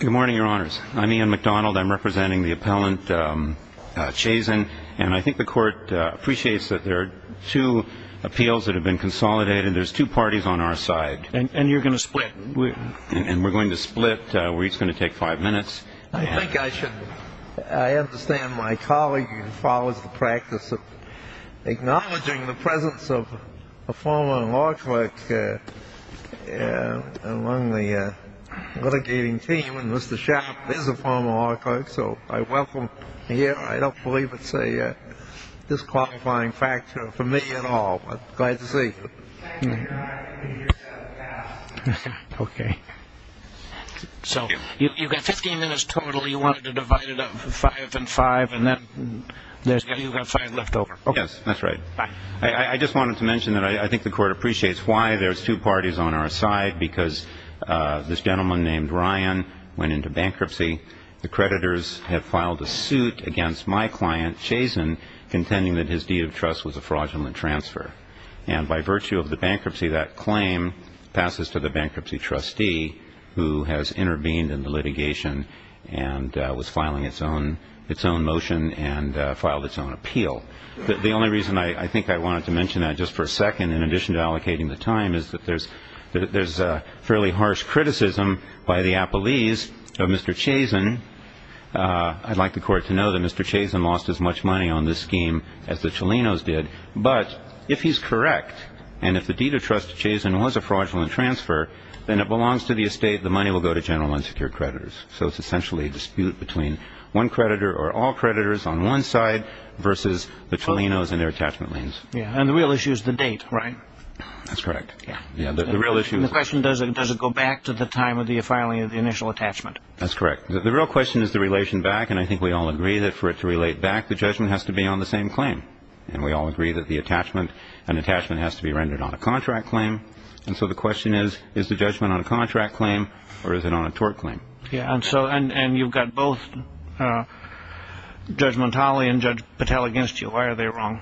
Good morning, your honors. I'm Ian MacDonald. I'm representing the appellant Chazen. And I think the court appreciates that there are two appeals that have been consolidated. There's two parties on our side. And you're going to split? And we're going to split. We're each going to take five minutes. I understand my colleague follows the practice of acknowledging the presence of a former law clerk among the litigating team. And Mr. Schapp is a former law clerk. So I welcome him here. I don't believe it's a disqualifying factor for me at all. Glad to see you. Thank you, your honor. Okay. Okay. So you've got 15 minutes total. You wanted to divide it up five and five, and then you've got five left over. Yes, that's right. I just wanted to mention that I think the court appreciates why there's two parties on our side, because this gentleman named Ryan went into bankruptcy. The creditors have filed a suit against my client, Chazen, contending that his deed of trust was a fraudulent transfer. And by virtue of the bankruptcy, that claim passes to the bankruptcy trustee who has intervened in the litigation and was filing its own motion and filed its own appeal. The only reason I think I wanted to mention that just for a second, in addition to allocating the time, is that there's fairly harsh criticism by the appellees of Mr. Chazen. I'd like the court to know that Mr. Chazen lost as much money on this scheme as the Chalinos did. But if he's correct, and if the deed of trust to Chazen was a fraudulent transfer, then it belongs to the estate. The money will go to general unsecured creditors. So it's essentially a dispute between one creditor or all creditors on one side versus the Chalinos and their attachment liens. And the real issue is the date, right? That's correct. The question, does it go back to the time of the filing of the initial attachment? That's correct. The real question is the relation back. And I think we all agree that for it to relate back, the judgment has to be on the same claim. And we all agree that an attachment has to be rendered on a contract claim. And so the question is, is the judgment on a contract claim or is it on a tort claim? And you've got both Judge Montali and Judge Patel against you. Why are they wrong?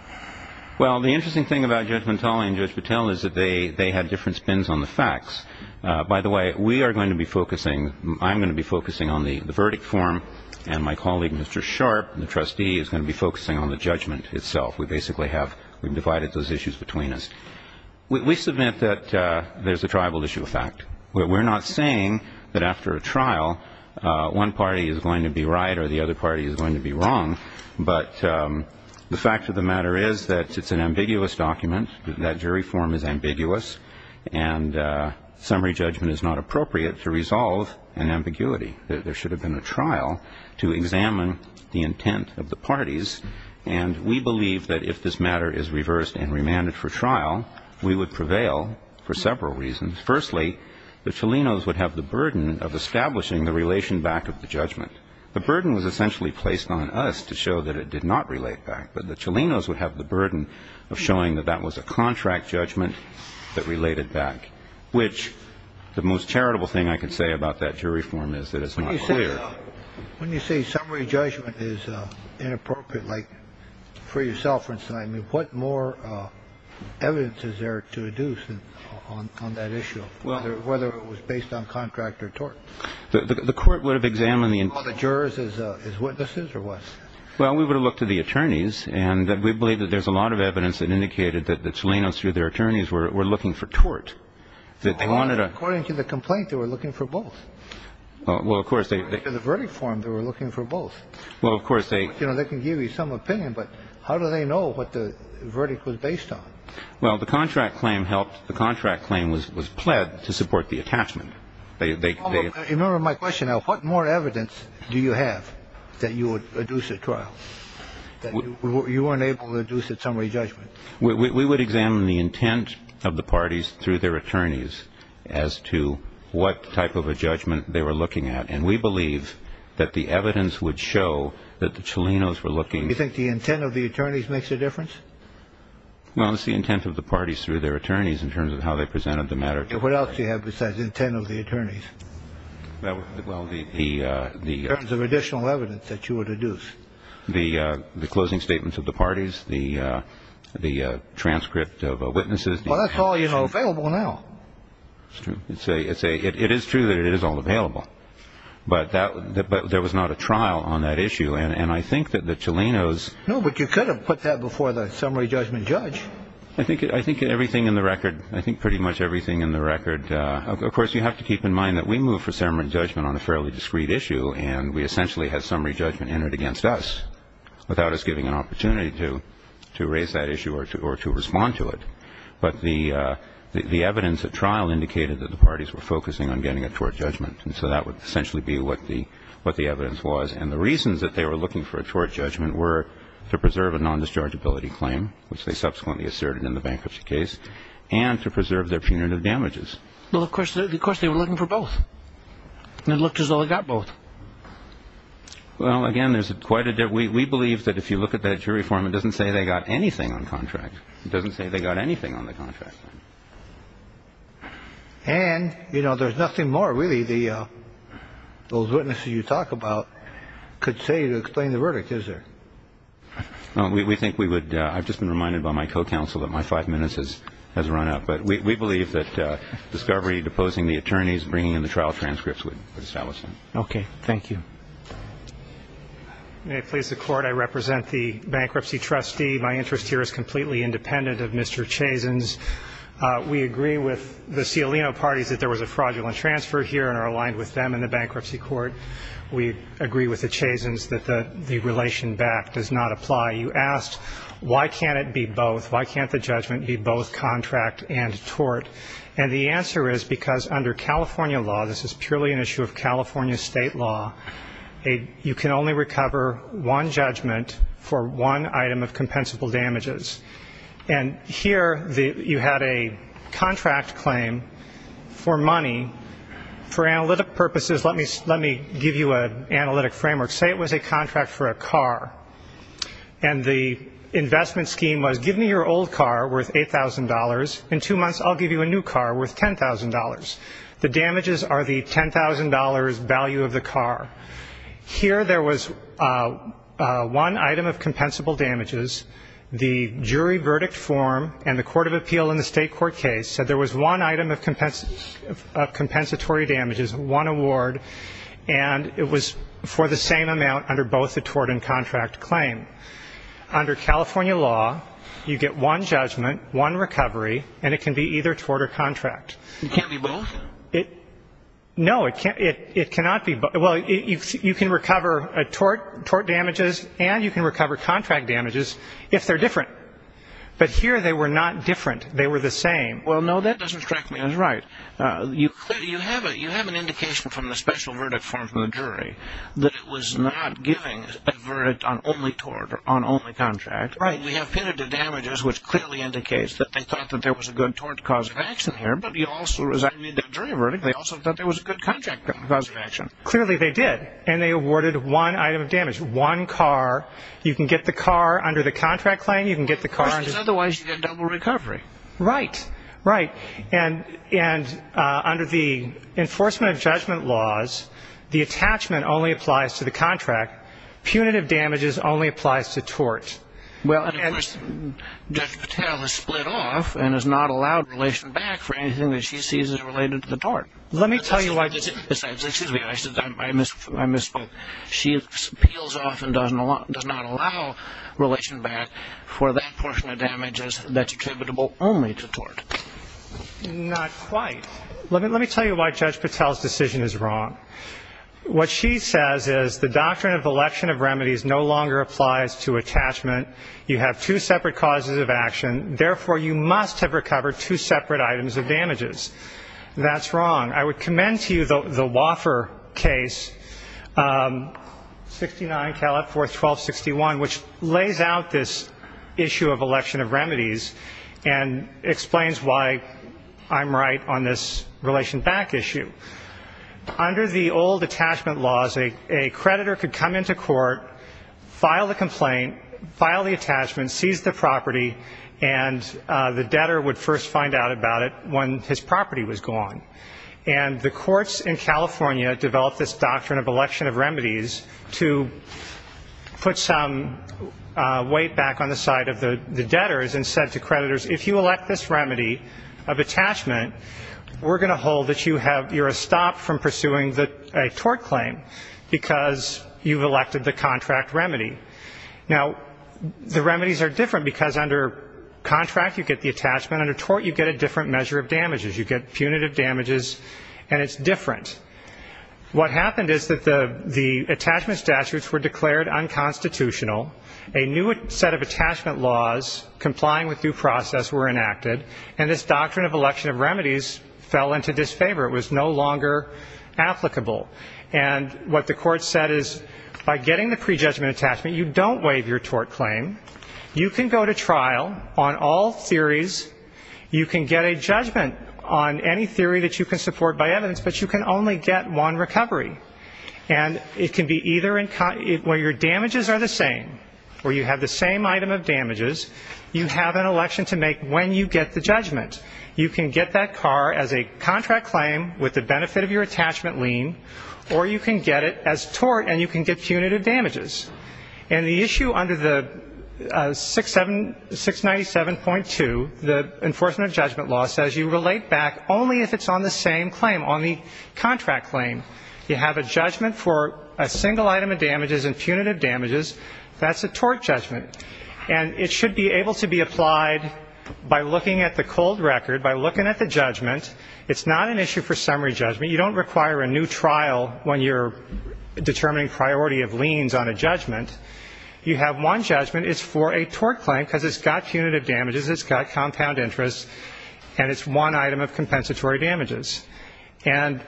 Well, the interesting thing about Judge Montali and Judge Patel is that they had different spins on the facts. By the way, we are going to be focusing, I'm going to be focusing on the verdict form, and my colleague, Mr. Sharp, the trustee, is going to be focusing on the judgment itself. We basically have divided those issues between us. We submit that there's a tribal issue of fact. We're not saying that after a trial, one party is going to be right or the other party is going to be wrong. But the fact of the matter is that it's an ambiguous document. That jury form is ambiguous. And summary judgment is not appropriate to resolve an ambiguity. There should have been a trial to examine the intent of the parties. And we believe that if this matter is reversed and remanded for trial, we would prevail for several reasons. Firstly, the Cholinos would have the burden of establishing the relation back of the judgment. The burden was essentially placed on us to show that it did not relate back. But the Cholinos would have the burden of showing that that was a contract judgment that related back, which the most charitable thing I could say about that jury form is that it's not clear. When you say summary judgment is inappropriate, like for yourself, for instance, I mean, what more evidence is there to deduce on that issue, whether it was based on contract or tort? The court would have examined the intent. Do you call the jurors as witnesses or what? Well, we would have looked to the attorneys. And we believe that there's a lot of evidence that indicated that the Cholinos through their attorneys were looking for tort. According to the complaint, they were looking for both. Well, of course. In the verdict form, they were looking for both. Well, of course. They can give you some opinion, but how do they know what the verdict was based on? Well, the contract claim helped. The contract claim was pled to support the attachment. Remember my question. Now, what more evidence do you have that you would deduce a trial? You weren't able to deduce a summary judgment. We would examine the intent of the parties through their attorneys as to what type of a judgment they were looking at. And we believe that the evidence would show that the Cholinos were looking. You think the intent of the attorneys makes a difference? Well, it's the intent of the parties through their attorneys in terms of how they presented the matter. What else do you have besides intent of the attorneys? In terms of additional evidence that you would deduce. The closing statements of the parties, the transcript of witnesses. Well, that's all, you know, available now. It is true that it is all available. But there was not a trial on that issue. And I think that the Cholinos. No, but you could have put that before the summary judgment judge. I think pretty much everything in the record. Of course, you have to keep in mind that we moved for summary judgment on a fairly discreet issue. And we essentially had summary judgment entered against us without us giving an opportunity to raise that issue or to respond to it. But the evidence at trial indicated that the parties were focusing on getting a tort judgment. And so that would essentially be what the evidence was. And the reasons that they were looking for a tort judgment were to preserve a nondischargeability claim, which they subsequently asserted in the bankruptcy case, and to preserve their punitive damages. Well, of course, of course, they were looking for both. And it looked as though they got both. Well, again, there's quite a bit. We believe that if you look at that jury form, it doesn't say they got anything on contract. It doesn't say they got anything on the contract. And, you know, there's nothing more really the those witnesses you talk about could say to explain the verdict, is there? We think we would. I've just been reminded by my co-counsel that my five minutes has run out. But we believe that discovery, deposing the attorneys, bringing in the trial transcripts would establish that. Okay. Thank you. May it please the Court, I represent the bankruptcy trustee. My interest here is completely independent of Mr. Chazen's. We agree with the Cialino parties that there was a fraudulent transfer here and are aligned with them in the bankruptcy court. We agree with the Chazen's that the relation back does not apply. You asked, why can't it be both? Why can't the judgment be both contract and tort? And the answer is because under California law, this is purely an issue of California state law, you can only recover one judgment for one item of compensable damages. And here you had a contract claim for money. For analytic purposes, let me give you an analytic framework. Say it was a contract for a car. And the investment scheme was, give me your old car worth $8,000. In two months, I'll give you a new car worth $10,000. The damages are the $10,000 value of the car. Here there was one item of compensable damages. The jury verdict form and the court of appeal in the state court case said there was one item of compensatory damages, one award, and it was for the same amount under both the tort and contract claim. Under California law, you get one judgment, one recovery, and it can be either tort or contract. It can't be both? No, it cannot be both. Well, you can recover tort damages and you can recover contract damages if they're different. But here they were not different. They were the same. Well, no, that doesn't strike me as right. You have an indication from the special verdict form from the jury that it was not giving a verdict on only tort or on only contract. Right. We have punitive damages, which clearly indicates that they thought that there was a good tort cause of action here, but you also resigned the jury verdict. They also thought there was a good contract cause of action. Clearly they did. And they awarded one item of damage, one car. You can get the car under the contract claim. You can get the car under the contract claim. The question is otherwise you get double recovery. Right. Right. And under the enforcement of judgment laws, the attachment only applies to the contract. Punitive damages only applies to tort. Judge Patel has split off and is not allowed relation back for anything that she sees as related to the tort. Let me tell you why. Excuse me. I misspoke. She peels off and does not allow relation back for that portion of damages that's attributable only to tort. Not quite. Let me tell you why Judge Patel's decision is wrong. What she says is the doctrine of election of remedies no longer applies to attachment. You have two separate causes of action. Therefore, you must have recovered two separate items of damages. That's wrong. I would commend to you the Woffer case, 69 Calif. 4, 1261, which lays out this issue of election of remedies and explains why I'm right on this relation back issue. Under the old attachment laws, a creditor could come into court, file the complaint, file the attachment, seize the property, and the debtor would first find out about it when his property was gone. And the courts in California developed this doctrine of election of remedies to put some weight back on the side of the debtors and said to creditors, if you elect this remedy of attachment, we're going to hold that you're a stop from pursuing a tort claim because you've elected the contract remedy. Now, the remedies are different because under contract, you get the attachment. Under tort, you get a different measure of damages. You get punitive damages, and it's different. What happened is that the attachment statutes were declared unconstitutional, a new set of attachment laws complying with due process were enacted, and this doctrine of election of remedies fell into disfavor. It was no longer applicable. And what the court said is by getting the prejudgment attachment, you don't waive your tort claim. You can go to trial on all theories. You can get a judgment on any theory that you can support by evidence, but you can only get one recovery. And it can be either where your damages are the same or you have the same item of damages, you have an election to make when you get the judgment. You can get that car as a contract claim with the benefit of your attachment lien, or you can get it as tort and you can get punitive damages. And the issue under the 697.2, the enforcement of judgment law, says you relate back only if it's on the same claim, on the contract claim. You have a judgment for a single item of damages and punitive damages. That's a tort judgment. And it should be able to be applied by looking at the cold record, by looking at the judgment. It's not an issue for summary judgment. You don't require a new trial when you're determining priority of liens on a judgment. You have one judgment. It's for a tort claim because it's got punitive damages, it's got compound interest, and it's one item of compensatory damages. And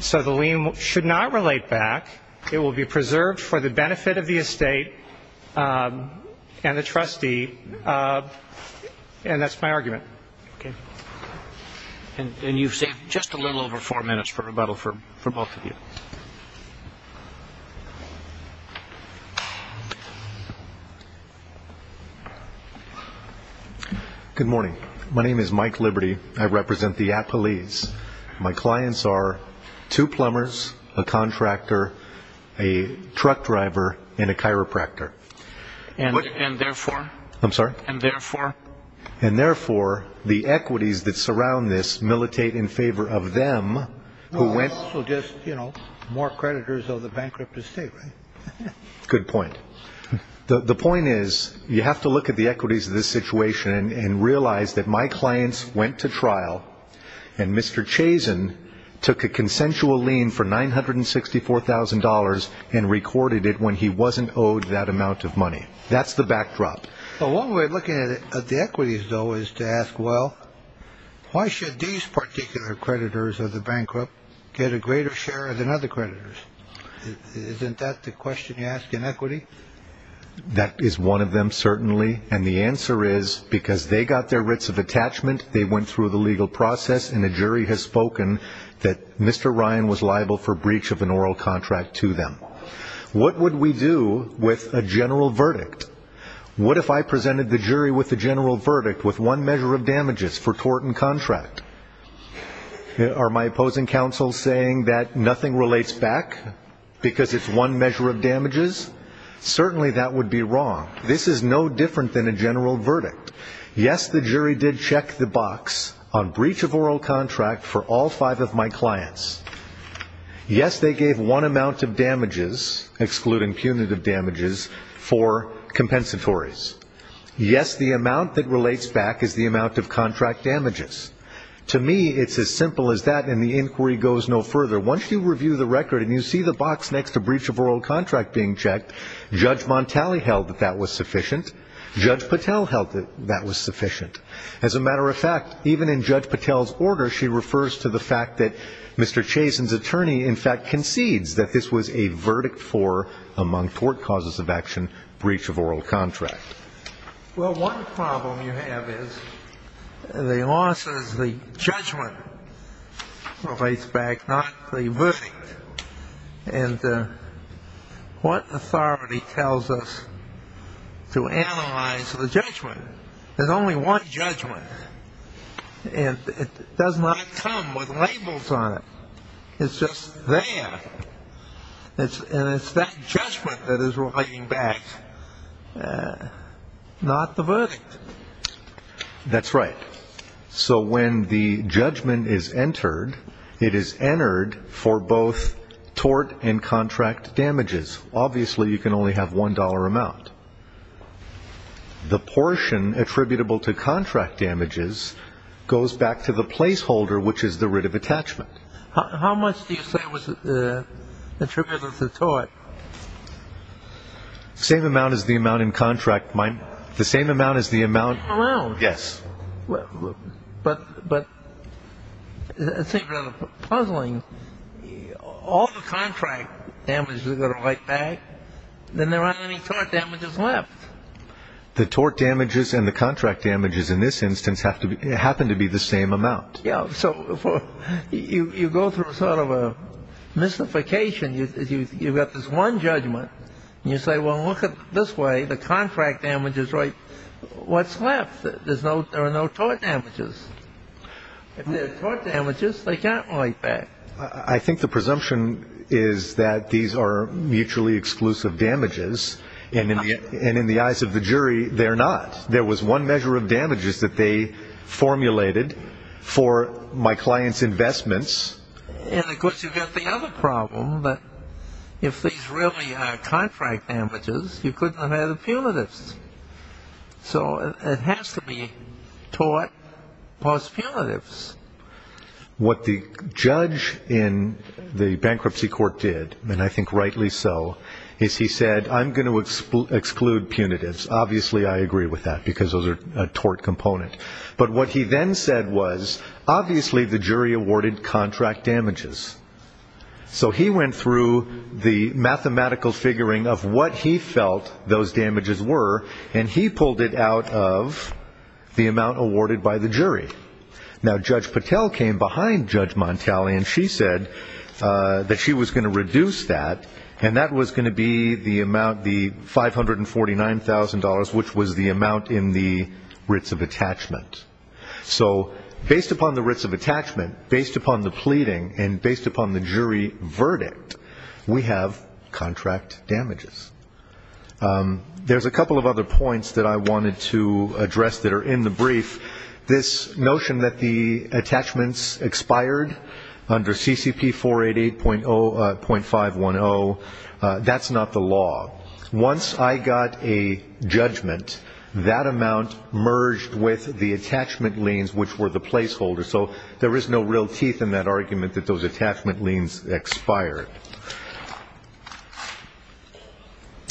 so the lien should not relate back. It will be preserved for the benefit of the estate and the trustee. And that's my argument. And you've saved just a little over four minutes for rebuttal for both of you. Good morning. My name is Mike Liberty. I represent the Appalese. My clients are two plumbers, a contractor, a truck driver, and a chiropractor. And therefore? I'm sorry? And therefore? And therefore, the equities that surround this militate in favor of them who went. So just, you know, more creditors of the bankrupt estate, right? Good point. The point is you have to look at the equities of this situation and realize that my clients went to trial and Mr. Chazen took a consensual lien for $964,000 and recorded it when he wasn't owed that amount of money. That's the backdrop. A long way of looking at the equities, though, is to ask, well, why should these particular creditors of the bankrupt get a greater share than other creditors? Isn't that the question you ask in equity? That is one of them, certainly. And the answer is because they got their writs of attachment, they went through the legal process, and a jury has spoken that Mr. Ryan was liable for breach of an oral contract to them. What would we do with a general verdict? What if I presented the jury with a general verdict with one measure of damages for tort and contract? Are my opposing counsels saying that nothing relates back because it's one measure of damages? Certainly that would be wrong. This is no different than a general verdict. Yes, the jury did check the box on breach of oral contract for all five of my clients. Yes, they gave one amount of damages, excluding punitive damages, for compensatories. Yes, the amount that relates back is the amount of contract damages. To me, it's as simple as that, and the inquiry goes no further. Once you review the record and you see the box next to breach of oral contract being checked, Judge Montali held that that was sufficient. Judge Patel held that that was sufficient. As a matter of fact, even in Judge Patel's order, she refers to the fact that Mr. Chazen's attorney, in fact, concedes that this was a verdict for, among tort causes of action, breach of oral contract. Well, one problem you have is the law says the judgment relates back, not the verdict. And what authority tells us to analyze the judgment? There's only one judgment, and it does not come with labels on it. It's just there, and it's that judgment that is relating back, not the verdict. That's right. So when the judgment is entered, it is entered for both tort and contract damages. Obviously, you can only have $1 amount. The portion attributable to contract damages goes back to the placeholder, which is the writ of attachment. How much do you say was attributable to tort? Same amount as the amount in contract. The same amount as the amount? The same amount. Yes. But let's say you're puzzling. All the contract damages are going to write back. Then there aren't any tort damages left. The tort damages and the contract damages in this instance happen to be the same amount. Yeah. So you go through sort of a mystification. You've got this one judgment, and you say, well, look at this way. The contract damages write what's left. There are no tort damages. If there are tort damages, they can't write back. I think the presumption is that these are mutually exclusive damages, and in the eyes of the jury, they're not. There was one measure of damages that they formulated for my client's investments. And, of course, you've got the other problem, that if these really are contract damages, you couldn't have had a punitive. So it has to be tort plus punitives. What the judge in the bankruptcy court did, and I think rightly so, is he said, I'm going to exclude punitives. Obviously, I agree with that because those are a tort component. But what he then said was, obviously, the jury awarded contract damages. So he went through the mathematical figuring of what he felt those damages were, and he pulled it out of the amount awarded by the jury. Now, Judge Patel came behind Judge Montali, and she said that she was going to reduce that, and that was going to be the amount, the $549,000, which was the amount in the writs of attachment. So based upon the writs of attachment, based upon the pleading, and based upon the jury verdict, we have contract damages. There's a couple of other points that I wanted to address that are in the brief. This notion that the attachments expired under CCP 488.510, that's not the law. Once I got a judgment, that amount merged with the attachment liens, which were the placeholders. So there is no real teeth in that argument that those attachment liens expired.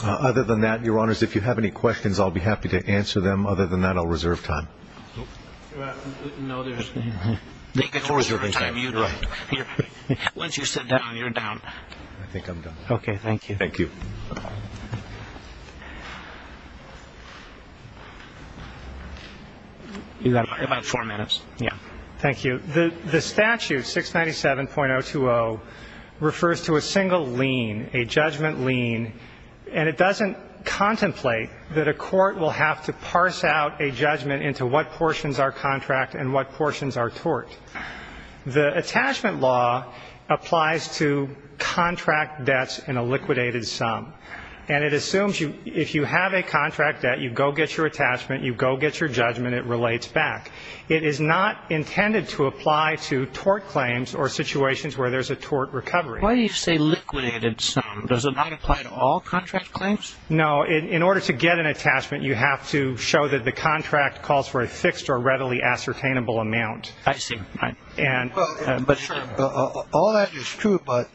Other than that, Your Honors, if you have any questions, I'll be happy to answer them. Other than that, I'll reserve time. No, there's no time. Once you sit down, you're down. I think I'm done. Okay, thank you. Thank you. You've got about four minutes. Thank you. The statute, 697.020, refers to a single lien, a judgment lien, and it doesn't contemplate that a court will have to parse out a judgment into what portions are contract and what portions are tort. The attachment law applies to contract debts in a liquidated sum, and it assumes if you have a contract debt, you go get your attachment, you go get your judgment, it relates back. It is not intended to apply to tort claims or situations where there's a tort recovery. Why do you say liquidated sum? Does it not apply to all contract claims? No. In order to get an attachment, you have to show that the contract calls for a fixed or readily ascertainable amount. I see. All that is true, but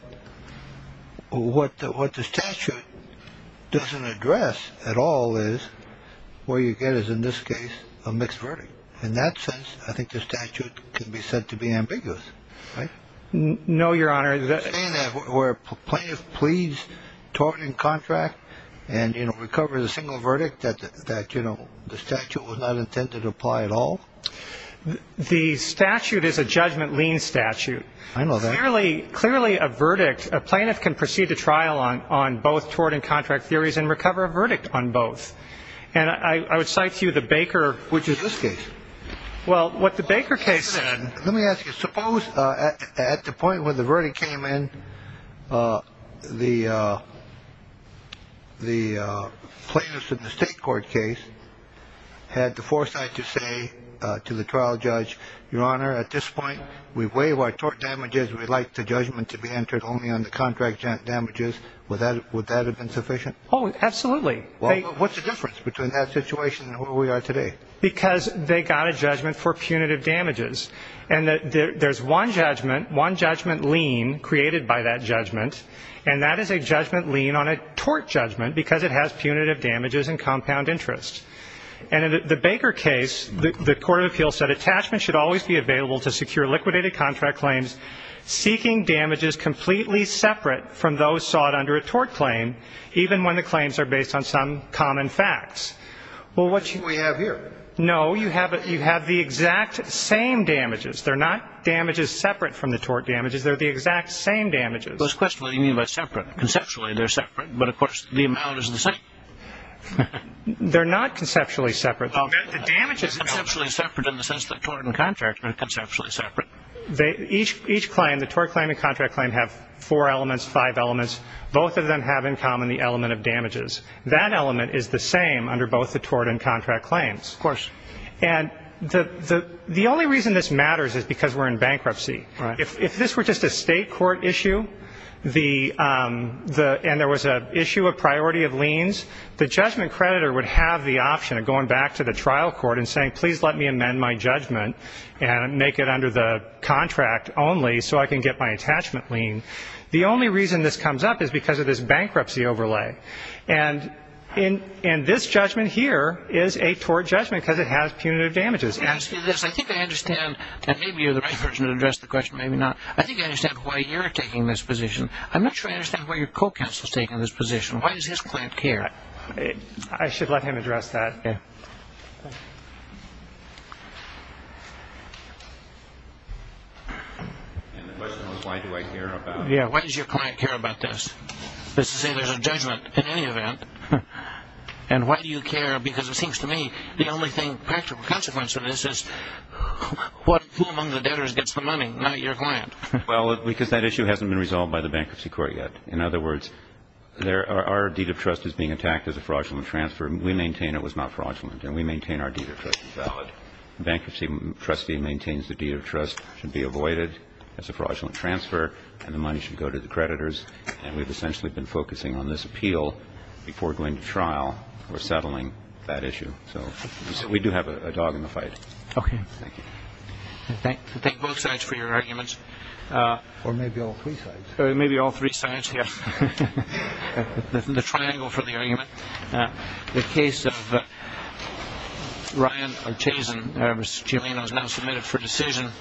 what the statute doesn't address at all is where you get, as in this case, a mixed verdict. In that sense, I think the statute can be said to be ambiguous. No, Your Honor. You're saying that where a plaintiff pleads tort in contract and recovers a single verdict that the statute was not intended to apply at all? The statute is a judgment lien statute. I know that. Clearly, a verdict, a plaintiff can proceed to trial on both tort and contract theories and recover a verdict on both. And I would cite to you the Baker. Which is this case. Well, what the Baker case said. Let me ask you, suppose at the point when the verdict came in, the plaintiffs in the state court case had the foresight to say to the trial judge, Your Honor, at this point, we waive our tort damages. We'd like the judgment to be entered only on the contract damages. Would that have been sufficient? Oh, absolutely. What's the difference between that situation and where we are today? Because they got a judgment for punitive damages. And there's one judgment, one judgment lien created by that judgment, and that is a judgment lien on a tort judgment because it has punitive damages and compound interest. And in the Baker case, the court of appeals said, attachment should always be available to secure liquidated contract claims, seeking damages completely separate from those sought under a tort claim, even when the claims are based on some common facts. Well, what do we have here? No, you have the exact same damages. They're not damages separate from the tort damages. They're the exact same damages. So the question is, what do you mean by separate? Conceptually, they're separate, but, of course, the amount is the same. They're not conceptually separate. The damage is conceptually separate in the sense that tort and contract are conceptually separate. Each claim, the tort claim and contract claim, have four elements, five elements. Both of them have in common the element of damages. That element is the same under both the tort and contract claims. Of course. And the only reason this matters is because we're in bankruptcy. Right. If this were just a state court issue and there was an issue of priority of liens, the judgment creditor would have the option of going back to the trial court and saying, please let me amend my judgment and make it under the contract only so I can get my attachment lien. The only reason this comes up is because of this bankruptcy overlay. And this judgment here is a tort judgment because it has punitive damages. I think I understand, and maybe you're the right person to address the question, maybe not. I think I understand why you're taking this position. I'm not sure I understand why your co-counsel is taking this position. Why does his client care? I should let him address that. The question was why do I care about it. Why does your client care about this? That's to say there's a judgment in any event. And why do you care? Because it seems to me the only practical consequence of this is who among the debtors gets the money, not your client. Well, because that issue hasn't been resolved by the bankruptcy court yet. In other words, our deed of trust is being attacked as a fraudulent transfer. We maintain it was not fraudulent and we maintain our deed of trust is valid. The bankruptcy trustee maintains the deed of trust should be avoided as a fraudulent transfer and the money should go to the creditors. And we've essentially been focusing on this appeal before going to trial or settling that issue. So we do have a dog in the fight. Okay. Thank you. I thank both sides for your arguments. Or maybe all three sides. Maybe all three sides, yes. The triangle for the argument. The case of Ryan Ortiz and Elvis Chileno is now submitted for decision.